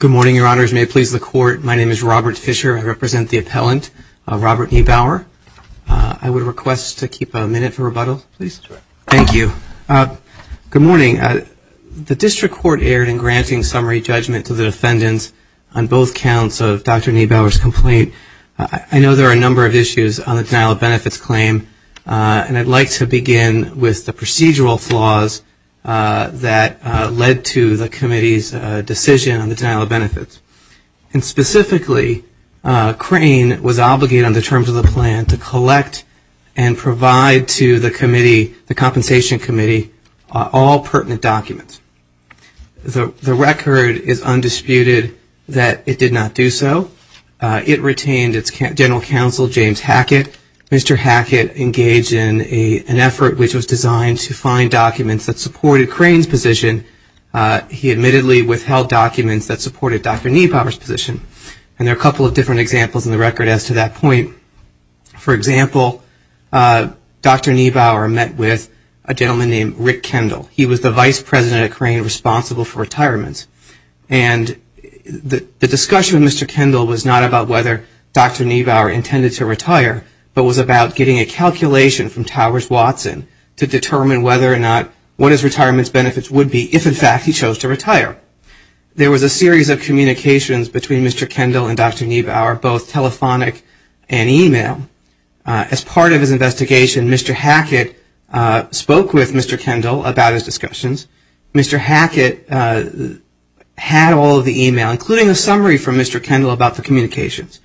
Good morning, Your Honors. May it please the Court, my name is Robert Fischer. I represent the appellant, Robert Niebauer. I would request to keep a minute for rebuttal, please. Thank you. Good morning. The District Court erred in granting summary judgment to the defendants on both counts of Dr. Niebauer's complaint. I know there are a number of issues on the denial of benefits claim, and I'd like to begin with the procedural flaws that led to the Committee's decision on the denial of benefits. And specifically, Crane was obligated under terms of the plan to collect and provide to the Committee, the Compensation Committee, all pertinent documents. The record is undisputed that it did not do so. It retained its General Counsel, James Hackett. Mr. Hackett engaged in an effort which was designed to find documents that supported Crane's position. He admittedly withheld documents that supported Dr. Niebauer's position. And there are a couple of different examples in the record as to that point. For example, Dr. Niebauer met with a gentleman named Rick Kendall. He was the Vice President at Crane responsible for retirements. And the discussion with Mr. Kendall was not about whether Dr. Niebauer intended to retire, but was about getting a calculation from Towers Watson to determine whether or not, what his retirement benefits would be if in fact he chose to retire. There was a series of communications between Mr. Kendall and Dr. Niebauer, both telephonic and email. As part of his investigation, Mr. Hackett spoke with Mr. Kendall about his discussions. Mr. Hackett had all of the email, including a summary from Mr. Kendall about the communications.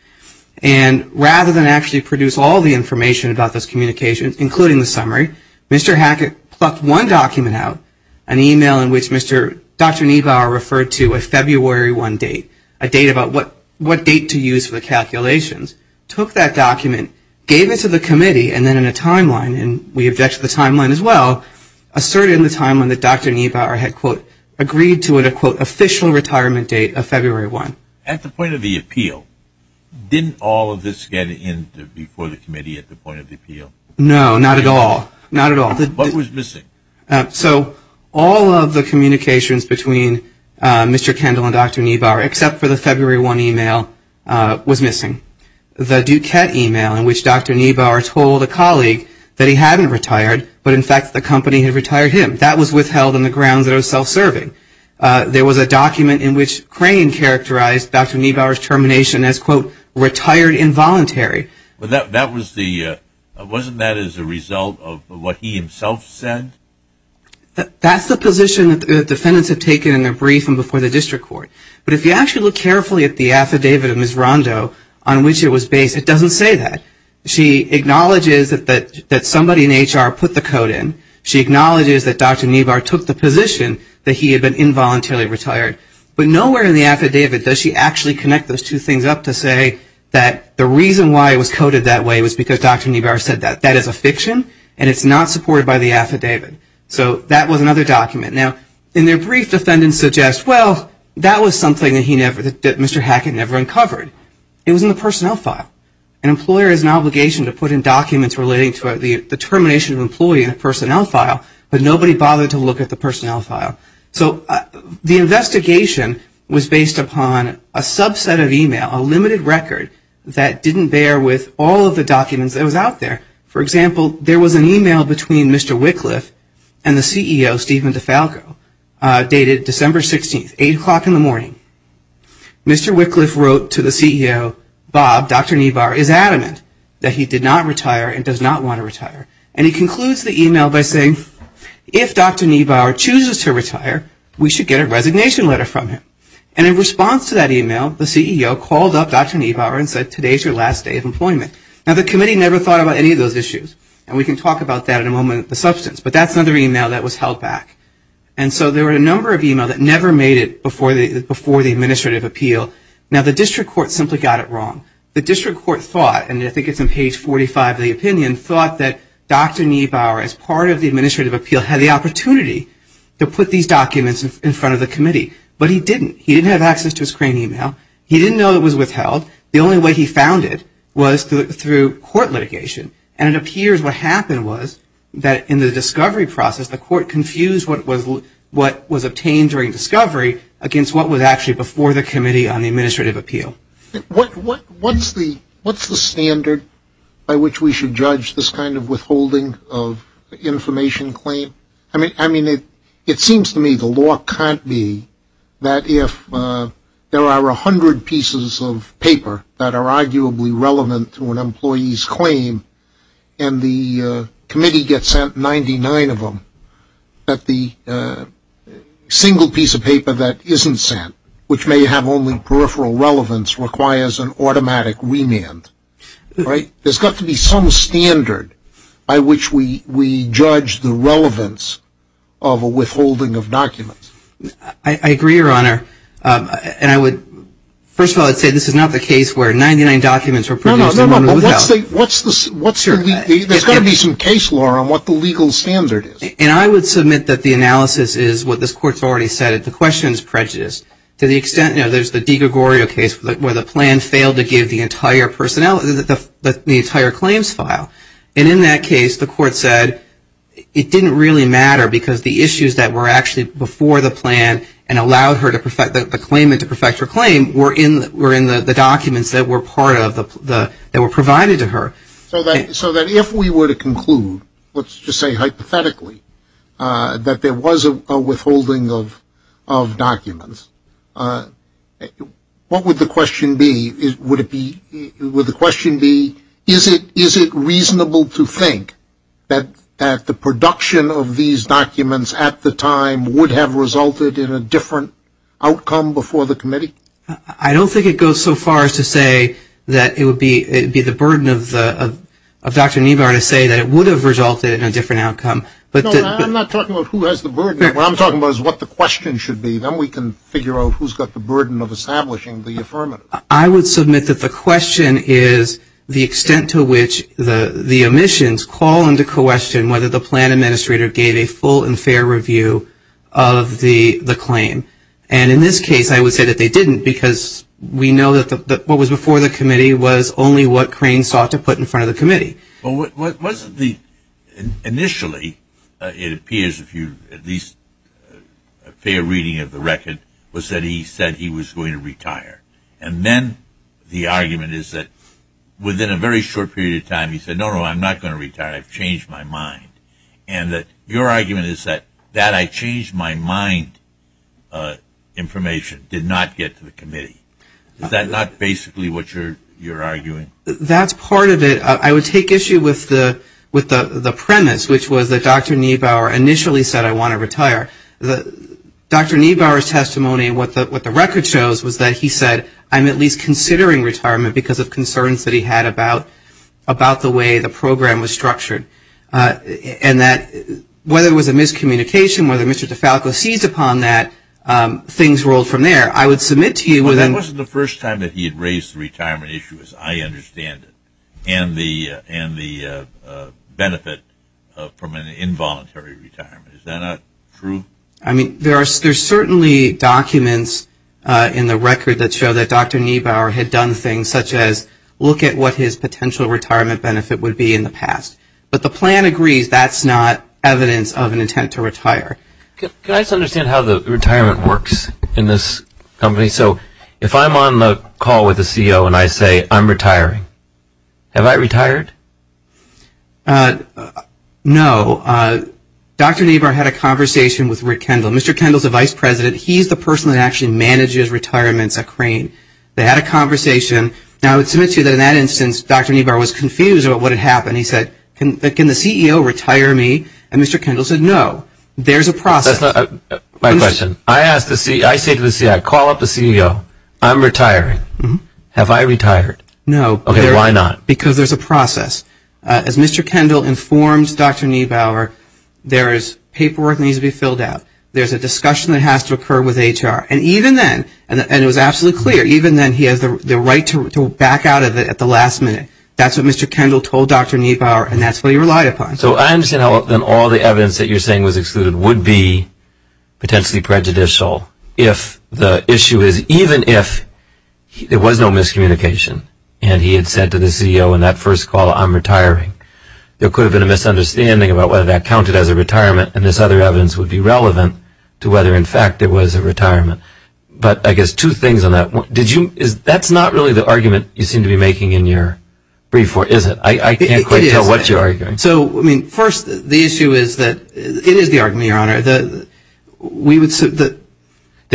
And rather than actually produce all the information about those communications, including the summary, Mr. Hackett plucked one document out, an email in which Dr. Niebauer referred to a February 1 date, a date about what date to use for the calculations, took that document, gave it to the committee, and then in a timeline, and we object to the timeline as well, asserted in the timeline that Dr. Niebauer had, quote, agreed to an, quote, official retirement date of February 1. At the point of the appeal, didn't all of this get in before the committee at the point of the appeal? No, not at all. Not at all. What was missing? So all of the communications between Mr. Kendall and Dr. Niebauer, except for the February 1 email, was missing. The Duquette email, in which Dr. Niebauer told a colleague that he hadn't retired, but in fact the company had retired him, that was withheld on the Dr. Niebauer's termination as, quote, retired involuntary. That was the, wasn't that as a result of what he himself said? That's the position that the defendants have taken in their brief and before the district court. But if you actually look carefully at the affidavit of Ms. Rondo on which it was based, it doesn't say that. She acknowledges that somebody in HR put the code in. She acknowledges that Dr. Niebauer took the position that he had been involuntarily retired. But nowhere in the affidavit does she actually connect those two things up to say that the reason why it was coded that way was because Dr. Niebauer said that. That is a fiction and it's not supported by the affidavit. So that was another document. Now, in their brief, defendants suggest, well, that was something that he never, that Mr. Hackett never uncovered. It was in the personnel file. An employer has an obligation to put in documents relating to the termination of an employee in a personnel file, but nobody bothered to look at the personnel file. So the investigation was based upon a subset of email, a limited record that didn't bear with all of the documents that was out there. For example, there was an email between Mr. Wickliffe and the CEO, Stephen DeFalco, dated December 16th, 8 o'clock in the morning. Mr. Wickliffe wrote to the CEO, Bob, Dr. Niebauer is adamant that he did not retire and does not want to retire. And he concludes the email by saying, if Dr. Niebauer chooses to retire, we should get a resignation letter from him. And in response to that email, the CEO called up Dr. Niebauer and said, today is your last day of employment. Now, the committee never thought about any of those issues and we can talk about that in a moment, the substance, but that's another email that was held back. And so there were a number of emails that never made it before the administrative appeal. Now the district court simply got it wrong. The district court thought, and I think it's on page 45 of the opinion, thought that Dr. Niebauer, as part of the administrative appeal, had the opportunity to put these documents in front of the committee. But he didn't. He didn't have access to his crane email. He didn't know it was withheld. The only way he found it was through court litigation. And it appears what happened was that in the discovery process, the court confused what was obtained during discovery against what was actually before the committee on the administrative appeal. What's the standard by which we should judge this kind of withholding of information claim? I mean, it seems to me the law can't be that if there are a hundred pieces of paper that are arguably relevant to an employee's claim and the committee gets sent 99 of them, that the single piece of paper that isn't sent, which may have only peripheral relevance, requires an automatic remand. Right? There's got to be some standard by which we judge the relevance of a withholding of documents. I agree, Your Honor. And I would, first of all, I'd say this is not the case where 99 documents were produced and none were withheld. What's the, there's got to be some case law on what the legal standard is. And I would submit that the analysis is what this court's already said, that the question is prejudiced. To the extent, you know, there's the DiGregorio case where the plan failed to give the entire personnel, the entire claims file. And in that case, the court said it didn't really matter because the issues that were actually before the plan and allowed her to perfect the claim and to perfect her claim were in the documents that were part of the, that were provided to her. So that if we were to conclude, let's just say hypothetically, that there was a withholding of documents, what would the question be? Would it be, would the question be, is it reasonable to think that the production of these documents at the time would have resulted in a different outcome before the committee? I don't think it goes so far as to say that it would be, it would be the burden of Dr. Neubauer to say that it would have resulted in a different outcome. No, I'm not talking about who has the burden. What I'm talking about is what the question should be. Then we can figure out who's got the burden of establishing the affirmative. I would submit that the question is the extent to which the omissions call into question whether the plan administrator gave a full and fair review of the claim. And in this case, I would say that they didn't because we know that what was before the committee was only what Crane sought to put in front of the committee. Well, wasn't the, initially, it appears if you at least, a fair reading of the record, was that he said he was going to retire. And then the argument is that within a very short period of time, he said, no, no, I'm not going to retire. I've changed my mind. And that your argument is that that I changed my mind information did not get to the committee. Is that not basically what you're arguing? That's part of it. I would take issue with the premise, which was that Dr. Neubauer initially said, I want to retire. Dr. Neubauer's testimony, what the record shows, was that he said, I'm at least considering retirement because of concerns that he had about the way the program was structured. And that, whether it was a miscommunication, whether Mr. DeFalco seized upon that, things rolled from there. I would submit to you that... Well, that wasn't the first time that he had raised the retirement issue, as I understand it, and the benefit from an involuntary retirement. Is that not true? I mean, there are certainly documents in the record that show that Dr. Neubauer had done things such as look at what his potential retirement benefit would be in the past. But the plan agrees that's not evidence of an intent to retire. Can I just understand how the retirement works in this company? So if I'm on the call with the CEO and I say, I'm retiring, have I retired? No. Dr. Neubauer had a conversation with Rick Kendall. Mr. Kendall's the vice president. He's the person that actually manages retirements at Crane. They had a conversation. Now, I would submit to you that in that instance, Dr. Neubauer was confused about what had happened. He said, can the CEO retire me? And Mr. Kendall said, no. There's a process. My question. I say to the CEO, I call up the CEO, I'm retiring. Have I retired? No. Okay, why not? Because there's a process. As Mr. Kendall informs Dr. Neubauer, there is paperwork that has to occur with HR. And even then, and it was absolutely clear, even then he has the right to back out of it at the last minute. That's what Mr. Kendall told Dr. Neubauer and that's what he relied upon. So I understand then all the evidence that you're saying was excluded would be potentially prejudicial if the issue is even if there was no miscommunication and he had said to the CEO in that first call, I'm retiring. There could have been a misunderstanding about whether that counted as a retirement and this other evidence would be relevant to whether, in fact, there was a retirement. But I guess two things on that. That's not really the argument you seem to be making in your brief. Is it? I can't quite tell what you're arguing. So, I mean, first, the issue is that it is the argument, Your Honor. That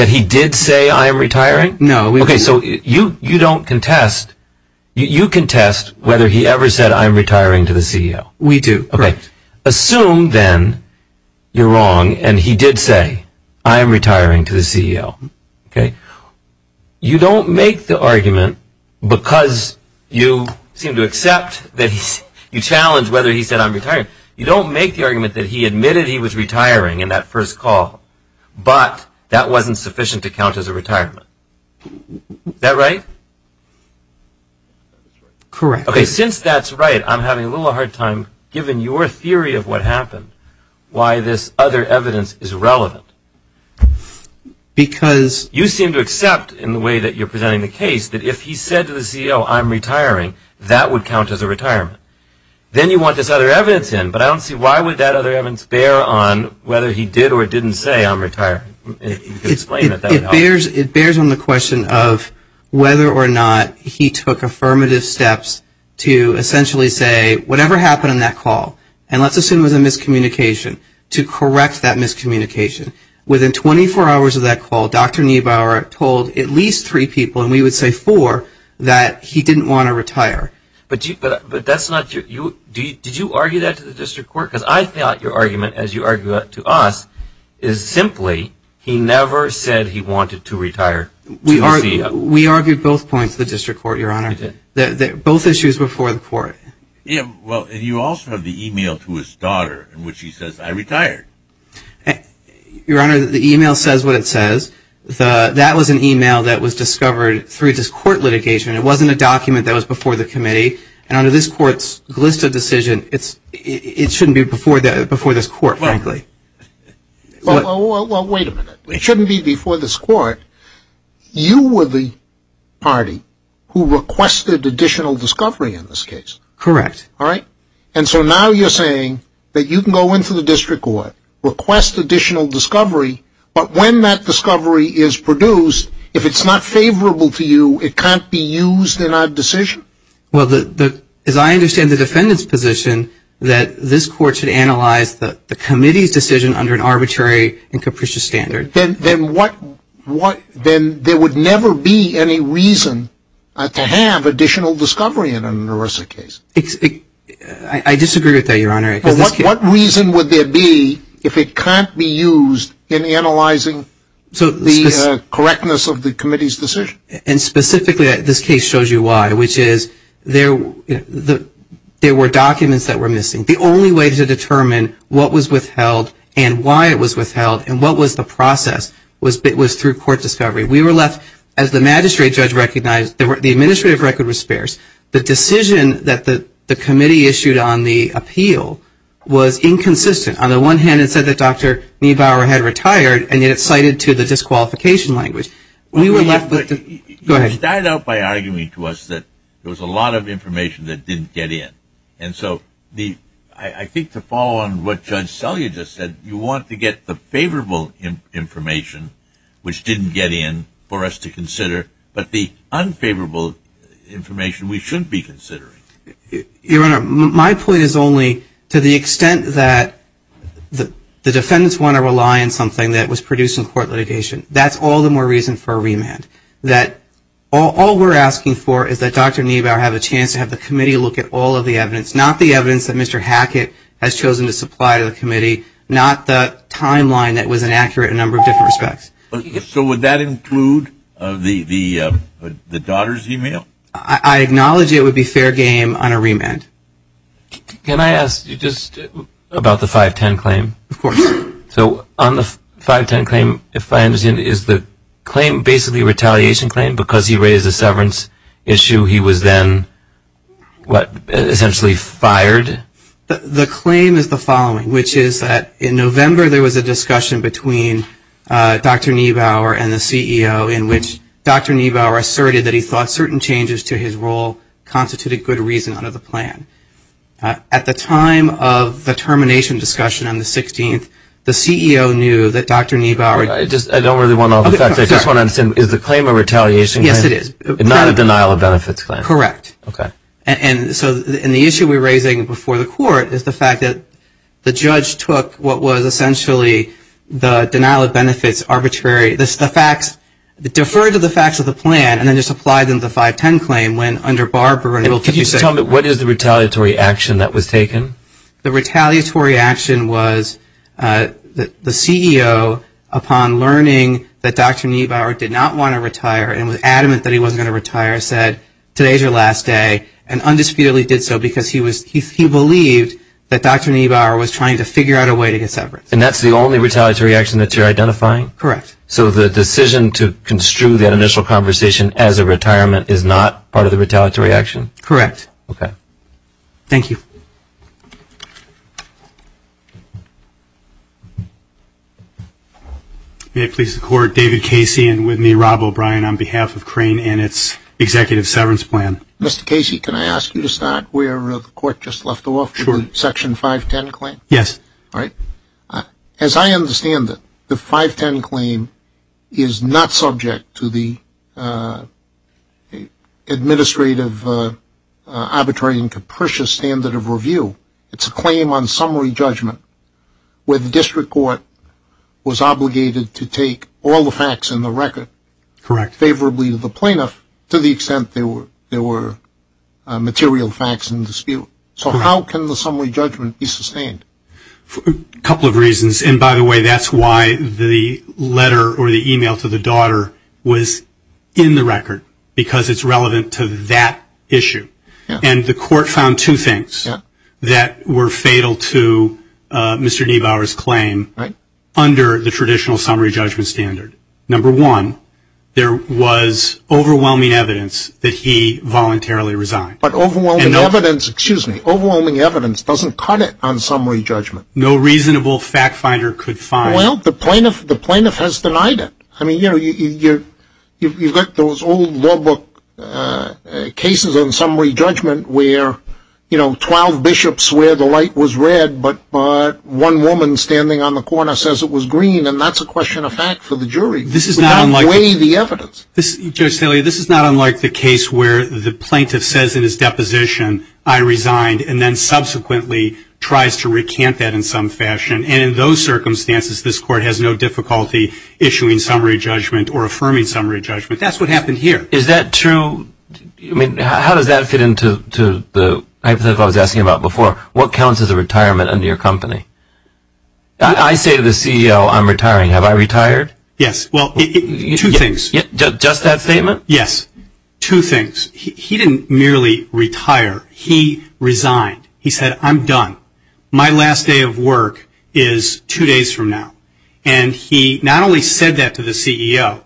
he did say I am retiring? No. Okay, so you don't contest. You contest whether he ever said I'm retiring to the CEO. We do. Okay, assume then you're wrong and he did say I'm retiring to the CEO. Okay. You don't make the argument because you seem to accept that you challenge whether he said I'm retiring. You don't make the argument that he admitted he was retiring in that first call, but that wasn't sufficient to count as a retirement. Is that right? Correct. Okay, since that's right, I'm having a little hard time giving your theory of what happened, why this other evidence is relevant. Because? You seem to accept, in the way that you're presenting the case, that if he said to the CEO I'm retiring, that would count as a retirement. Then you want this other evidence in, but I don't see why would that other evidence bear on whether he did or didn't say I'm retiring. Explain that. It bears on the question of whether or not he took affirmative steps to essentially say, whatever happened in that call, and let's assume it was a miscommunication, to correct that miscommunication. Within 24 hours of that call, Dr. Niebauer told at least three people, and we would say four, that he didn't want to retire. But that's not your, did you argue that to the district court? Because I thought your argument, as you argue it to us, is simply he never said he wanted to retire. We argued both points to the district court, Your Honor. Both issues before the court. Well, and you also have the e-mail to his daughter in which he says, I retired. Your Honor, the e-mail says what it says. That was an e-mail that was discovered through this court litigation. It wasn't a document that was before the committee. And under this court's Glista decision, it shouldn't be before this court, frankly. Well, wait a minute. It shouldn't be before this court. You were the party who requested additional discovery in this case. Correct. All right? And so now you're saying that you can go into the district court, request additional discovery, but when that discovery is produced, if it's not favorable to you, it can't be used in our decision? Well, as I understand the defendant's position, that this court should analyze the committee's decision under an arbitrary and capricious standard. Then there would never be any reason to have additional discovery in an ERISA case. I disagree with that, Your Honor. What reason would there be if it can't be used in analyzing the correctness of the committee's decision? And specifically, this case shows you why, which is there were documents that were missing. The only way to determine what was withheld and why it was withheld and what was the process was through court discovery. We were left, as the magistrate judge recognized, the administrative record was sparse. The decision that the committee issued on the appeal was inconsistent. On the one hand, it said that Dr. Niebauer had retired, and yet it cited to the disqualification language. You started out by arguing to us that there was a lot of information that didn't get in. And so I think to follow on what Judge Selye just said, you want to get the favorable information, which didn't get in, for us to consider, but the unfavorable information we shouldn't be considering. Your Honor, my point is only to the extent that the defendants want to rely on something that was produced in court litigation. That's all the more reason for a remand. All we're asking for is that Dr. Niebauer have a chance to have the committee look at all of the evidence, not the evidence that Mr. Hackett has chosen to supply to the committee, not the timeline that was inaccurate in a number of different respects. So would that include the daughter's email? I acknowledge it would be fair game on a remand. Can I ask you just about the 510 claim? Of course. So on the 510 claim, if I understand, is the claim basically a retaliation claim? Because he raised the severance issue, he was then essentially fired? The claim is the following, which is that in November there was a discussion between Dr. Niebauer and the CEO in which Dr. Niebauer asserted that he thought certain changes to his role constituted good reason under the plan. At the time of the termination discussion on the 16th, the CEO knew that Dr. Niebauer I don't really want to know the facts. I just want to understand, is the claim a retaliation claim? Yes, it is. Not a denial of benefits claim? Correct. Okay. And so in the issue we're raising before the court is the fact that the judge took what was essentially the denial of benefits arbitrary, the facts, deferred to the facts of the plan Can you tell me what is the retaliatory action that was taken? The retaliatory action was the CEO, upon learning that Dr. Niebauer did not want to retire and was adamant that he wasn't going to retire, said today's your last day and undisputedly did so because he believed that Dr. Niebauer was trying to figure out a way to get severance. And that's the only retaliatory action that you're identifying? Correct. So the decision to construe that initial conversation as a retirement is not part of the retaliatory action? Correct. Okay. Thank you. May it please the court, David Casey and with me Rob O'Brien on behalf of Crane and its executive severance plan. Mr. Casey, can I ask you to start where the court just left off? Sure. Section 510 claim? Yes. As I understand it, the 510 claim is not subject to the administrative arbitrary and capricious standard of review. It's a claim on summary judgment where the district court was obligated to take all the facts in the record. Correct. Favorably to the plaintiff to the extent there were material facts in dispute. So how can the summary judgment be sustained? A couple of reasons. And by the way, that's why the letter or the email to the daughter was in the record because it's relevant to that issue. And the court found two things that were fatal to Mr. Niebauer's claim under the traditional summary judgment standard. Number one, there was overwhelming evidence that he voluntarily resigned. But overwhelming evidence, excuse me, overwhelming evidence doesn't cut it on summary judgment. No reasonable fact finder could find it. Well, the plaintiff has denied it. I mean, you know, you've got those old law book cases on summary judgment where, you know, 12 bishops swear the light was red, but one woman standing on the corner says it was green, and that's a question of fact for the jury. This is not unlike the evidence. I resigned and then subsequently tries to recant that in some fashion. And in those circumstances, this court has no difficulty issuing summary judgment or affirming summary judgment. That's what happened here. Is that true? I mean, how does that fit into the hypothetical I was asking about before? What counts as a retirement under your company? I say to the CEO, I'm retiring. Have I retired? Yes. Well, two things. Just that statement? Yes. Two things. He didn't merely retire. He resigned. He said, I'm done. My last day of work is two days from now. And he not only said that to the CEO,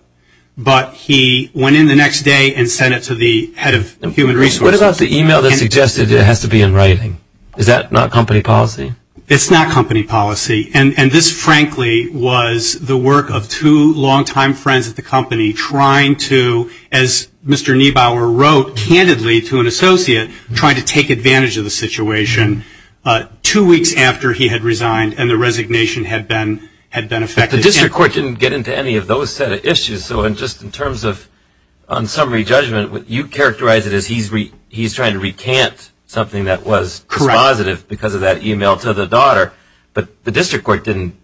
but he went in the next day and sent it to the head of human resources. What about the e-mail that suggested it has to be in writing? Is that not company policy? It's not company policy. And this, frankly, was the work of two longtime friends at the company trying to, as Mr. Niebauer wrote, candidly to an associate, trying to take advantage of the situation two weeks after he had resigned and the resignation had been effective. The district court didn't get into any of those set of issues. So just in terms of on summary judgment, what you characterize it as he's trying to recant something that was positive because of that e-mail to the daughter. But the district court didn't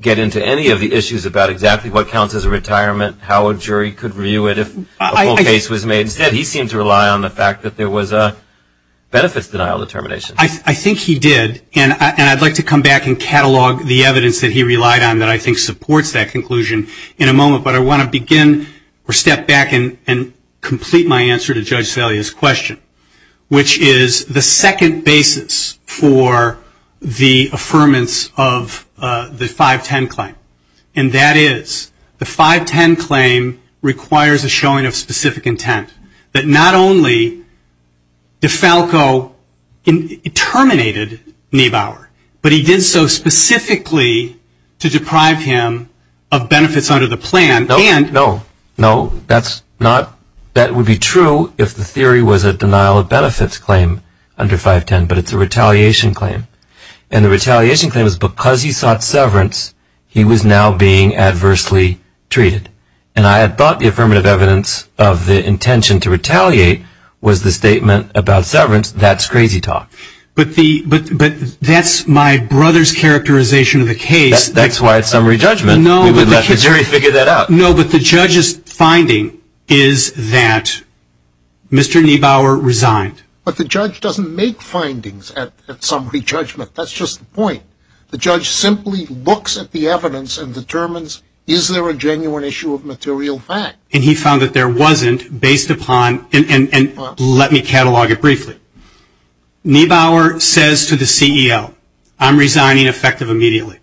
get into any of the issues about exactly what counts as a retirement, how a jury could review it if a full case was made. Instead, he seemed to rely on the fact that there was a benefits denial determination. I think he did. And I'd like to come back and catalog the evidence that he relied on that I think supports that conclusion in a moment. But I want to begin or step back and complete my answer to Judge Salia's question, which is the second basis for the affirmance of the 510 claim. And that is the 510 claim requires a showing of specific intent that not only did Falco terminate Niebauer, but he did so specifically to deprive him of benefits under the plan. No, that would be true if the theory was a denial of benefits claim under 510, but it's a retaliation claim. And the retaliation claim is because he sought severance, he was now being adversely treated. And I had thought the affirmative evidence of the intention to retaliate was the statement about severance. That's crazy talk. But that's my brother's characterization of the case. That's why it's summary judgment. We would let the jury figure that out. No, but the judge's finding is that Mr. Niebauer resigned. But the judge doesn't make findings at summary judgment. That's just the point. The judge simply looks at the evidence and determines is there a genuine issue of material fact. And he found that there wasn't based upon, and let me catalog it briefly. Niebauer says to the CEO, I'm resigning effective immediately.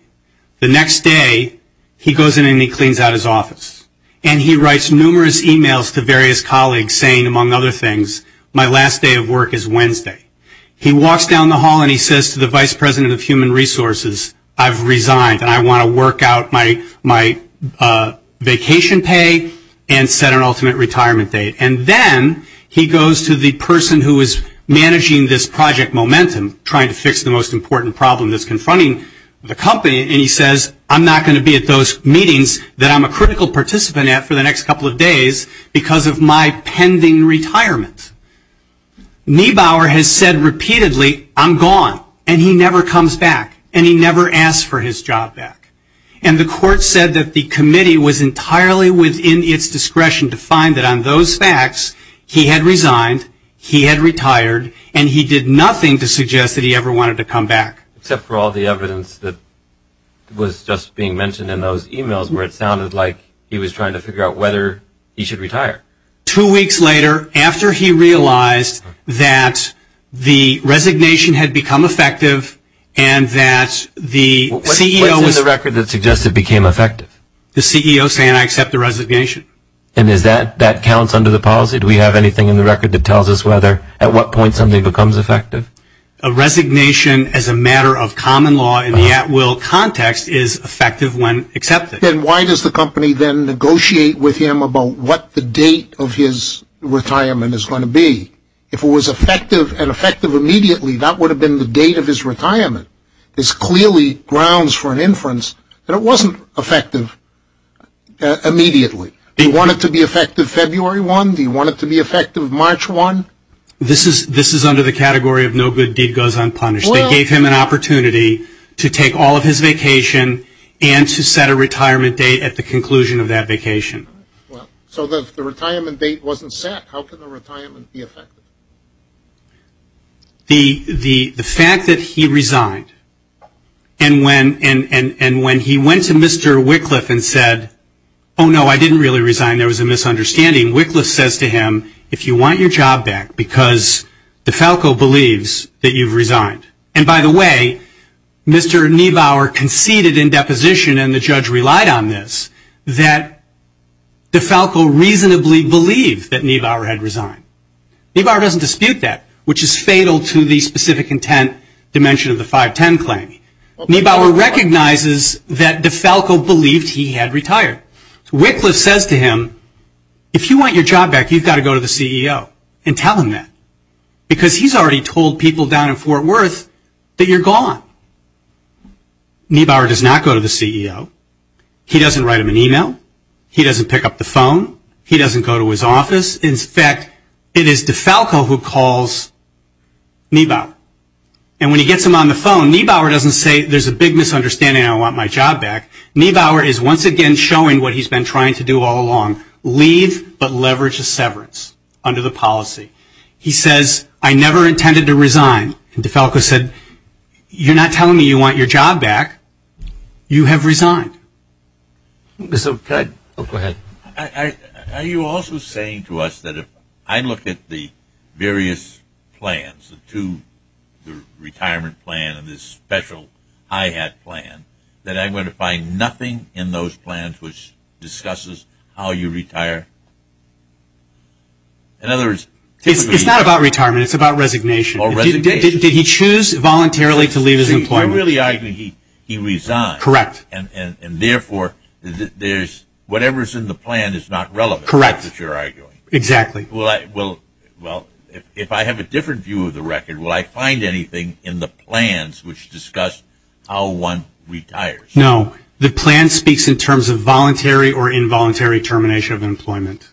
The next day, he goes in and he cleans out his office. And he writes numerous emails to various colleagues saying, among other things, my last day of work is Wednesday. He walks down the hall and he says to the Vice President of Human Resources, I've resigned and I want to work out my vacation pay and set an ultimate retirement date. And then he goes to the person who is managing this project momentum, trying to fix the most important problem that's confronting the company. And he says, I'm not going to be at those meetings that I'm a critical participant at for the next couple of days because of my pending retirement. Niebauer has said repeatedly, I'm gone. And he never comes back. And he never asks for his job back. And the court said that the committee was entirely within its discretion to find that on those facts, he had resigned, he had retired, and he did nothing to suggest that he ever wanted to come back. Except for all the evidence that was just being mentioned in those emails where it sounded like he was trying to figure out whether he should retire. Two weeks later, after he realized that the resignation had become effective and that the CEO was What's in the record that suggests it became effective? The CEO saying, I accept the resignation. And that counts under the policy? Do we have anything in the record that tells us at what point something becomes effective? A resignation as a matter of common law in the at-will context is effective when accepted. Then why does the company then negotiate with him about what the date of his retirement is going to be? If it was effective and effective immediately, that would have been the date of his retirement. This clearly grounds for an inference that it wasn't effective immediately. Do you want it to be effective February 1? Do you want it to be effective March 1? This is under the category of no good deed goes unpunished. They gave him an opportunity to take all of his vacation and to set a retirement date at the conclusion of that vacation. So if the retirement date wasn't set, how could the retirement be effective? The fact that he resigned and when he went to Mr. Wickliffe and said, oh no, I didn't really resign, there was a misunderstanding. Wickliffe says to him, if you want your job back because DeFalco believes that you've resigned. And by the way, Mr. Niebauer conceded in deposition and the judge relied on this that DeFalco reasonably believed that Niebauer had resigned. Niebauer doesn't dispute that, which is fatal to the specific intent dimension of the 510 claim. Niebauer recognizes that DeFalco believed he had retired. Wickliffe says to him, if you want your job back, you've got to go to the CEO and tell him that. Because he's already told people down in Fort Worth that you're gone. Niebauer does not go to the CEO. He doesn't write him an email. He doesn't pick up the phone. He doesn't go to his office. In fact, it is DeFalco who calls Niebauer. And when he gets him on the phone, Niebauer doesn't say there's a big misunderstanding and I want my job back. Niebauer is once again showing what he's been trying to do all along, leave but leverage a severance under the policy. He says, I never intended to resign. DeFalco said, you're not telling me you want your job back. You have resigned. Go ahead. Are you also saying to us that if I look at the various plans, the retirement plan and this special IHAT plan, that I'm going to find nothing in those plans which discusses how you retire? It's not about retirement. It's about resignation. Did he choose voluntarily to leave his employment? I really argue he resigned. Correct. And therefore, whatever's in the plan is not relevant. Correct. Exactly. Well, if I have a different view of the record, will I find anything in the plans which discuss how one retires? No. The plan speaks in terms of voluntary or involuntary termination of employment.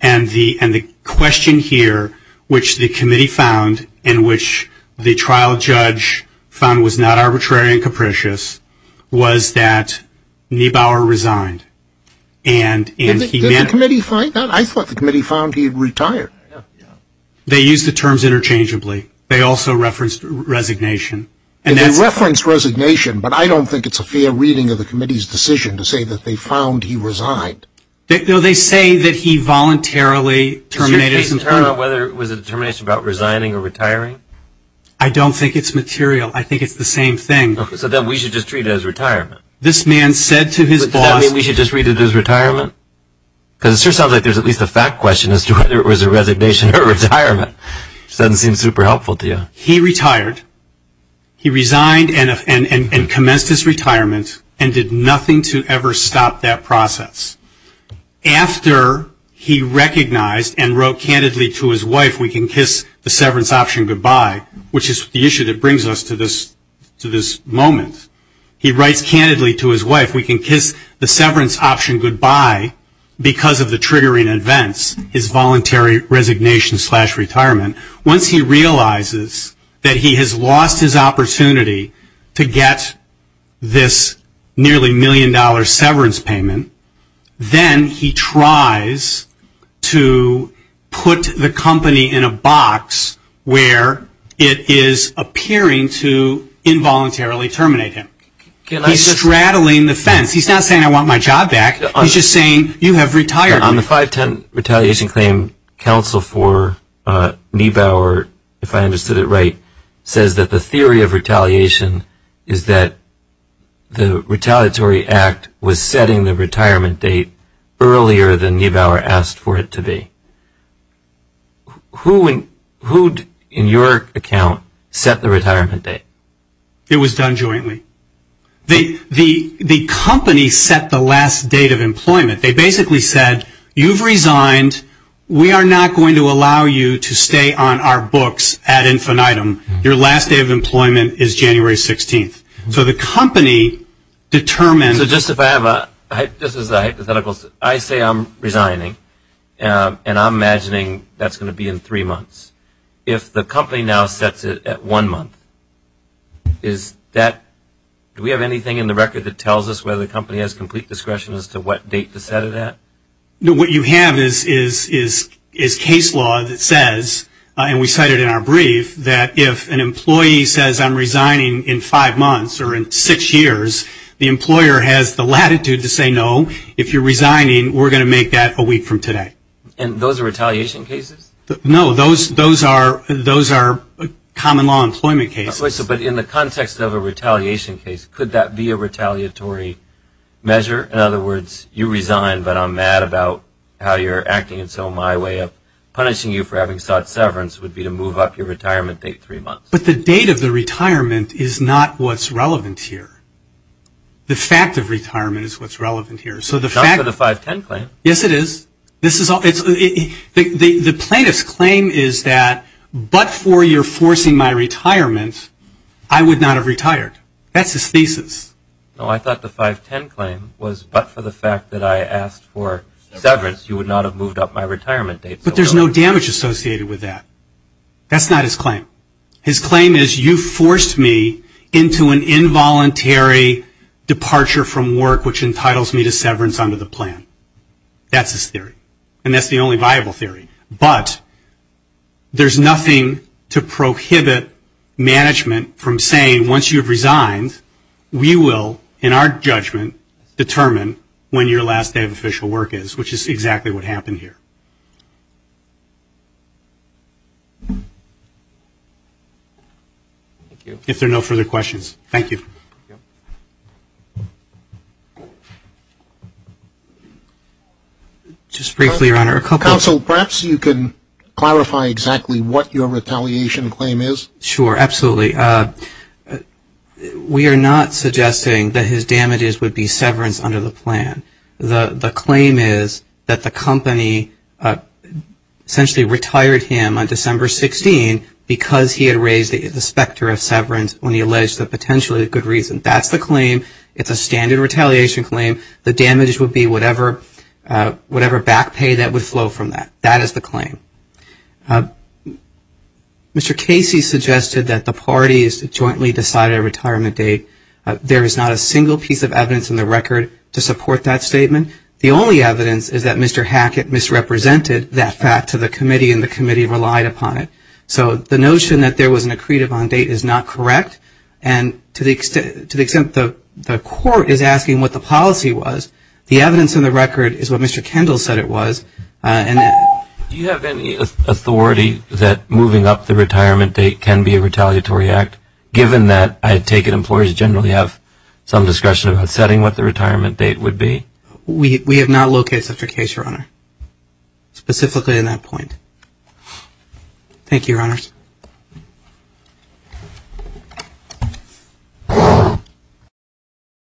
And the question here, which the committee found and which the trial judge found was not arbitrary and capricious, was that Niebauer resigned. Did the committee find that? I thought the committee found he had retired. They used the terms interchangeably. They also referenced resignation. They referenced resignation, but I don't think it's a fair reading of the committee's decision to say that they found he resigned. No, they say that he voluntarily terminated his employment. Does your case turn out whether it was a determination about resigning or retiring? I don't think it's material. I think it's the same thing. Okay. So then we should just treat it as retirement. This man said to his boss. Does that mean we should just treat it as retirement? Because it sure sounds like there's at least a fact question as to whether it was a resignation or retirement. It doesn't seem super helpful to you. He retired. He resigned and commenced his retirement and did nothing to ever stop that process. After he recognized and wrote candidly to his wife, we can kiss the severance option goodbye, which is the issue that brings us to this moment. He writes candidly to his wife, we can kiss the severance option goodbye because of the triggering events, his voluntary resignation slash retirement. Once he realizes that he has lost his opportunity to get this nearly million-dollar severance payment, then he tries to put the company in a box where it is appearing to involuntarily terminate him. He's straddling the fence. He's not saying I want my job back. He's just saying you have retired. On the 510 Retaliation Claim, counsel for Niebauer, if I understood it right, says that the theory of retaliation is that the retaliatory act was setting the retirement date earlier than Niebauer asked for it to be. Who, in your account, set the retirement date? It was done jointly. The company set the last date of employment. They basically said, you've resigned. We are not going to allow you to stay on our books ad infinitum. Your last day of employment is January 16th. So the company determined. So just if I have a hypothetical, I say I'm resigning, and I'm imagining that's going to be in three months. If the company now sets it at one month, is that, do we have anything in the record that tells us whether the company has complete discretion as to what date to set it at? What you have is case law that says, and we cite it in our brief, that if an employee says I'm resigning in five months or in six years, the employer has the latitude to say no. If you're resigning, we're going to make that a week from today. And those are retaliation cases? No, those are common law employment cases. But in the context of a retaliation case, could that be a retaliatory measure? In other words, you resign, but I'm mad about how you're acting, and so my way of punishing you for having sought severance would be to move up your retirement date three months. But the date of the retirement is not what's relevant here. The fact of retirement is what's relevant here. Not for the 510 claim. Yes, it is. The plaintiff's claim is that but for your forcing my retirement, I would not have retired. That's his thesis. No, I thought the 510 claim was but for the fact that I asked for severance, you would not have moved up my retirement date. But there's no damage associated with that. That's not his claim. His claim is you forced me into an involuntary departure from work, which entitles me to severance under the plan. That's his theory. And that's the only viable theory. But there's nothing to prohibit management from saying once you've resigned, we will, in our judgment, determine when your last day of official work is, which is exactly what happened here. If there are no further questions, thank you. Thank you. Just briefly, Your Honor. Counsel, perhaps you can clarify exactly what your retaliation claim is. Sure, absolutely. We are not suggesting that his damages would be severance under the plan. The claim is that the company essentially retired him on December 16 because he had raised the specter of severance when he alleged that potentially a good reason. That's the claim. It's a standard retaliation claim. The damage would be whatever back pay that would flow from that. That is the claim. Mr. Casey suggested that the parties jointly decided a retirement date. There is not a single piece of evidence in the record to support that statement. The only evidence is that Mr. Hackett misrepresented that fact to the committee and the committee relied upon it. So the notion that there was an accretive on date is not correct, and to the extent the court is asking what the policy was, the evidence in the record is what Mr. Kendall said it was. Do you have any authority that moving up the retirement date can be a retaliatory act, given that I take it employers generally have some discretion about setting what the retirement date would be? We have not located such a case, Your Honor, specifically in that point.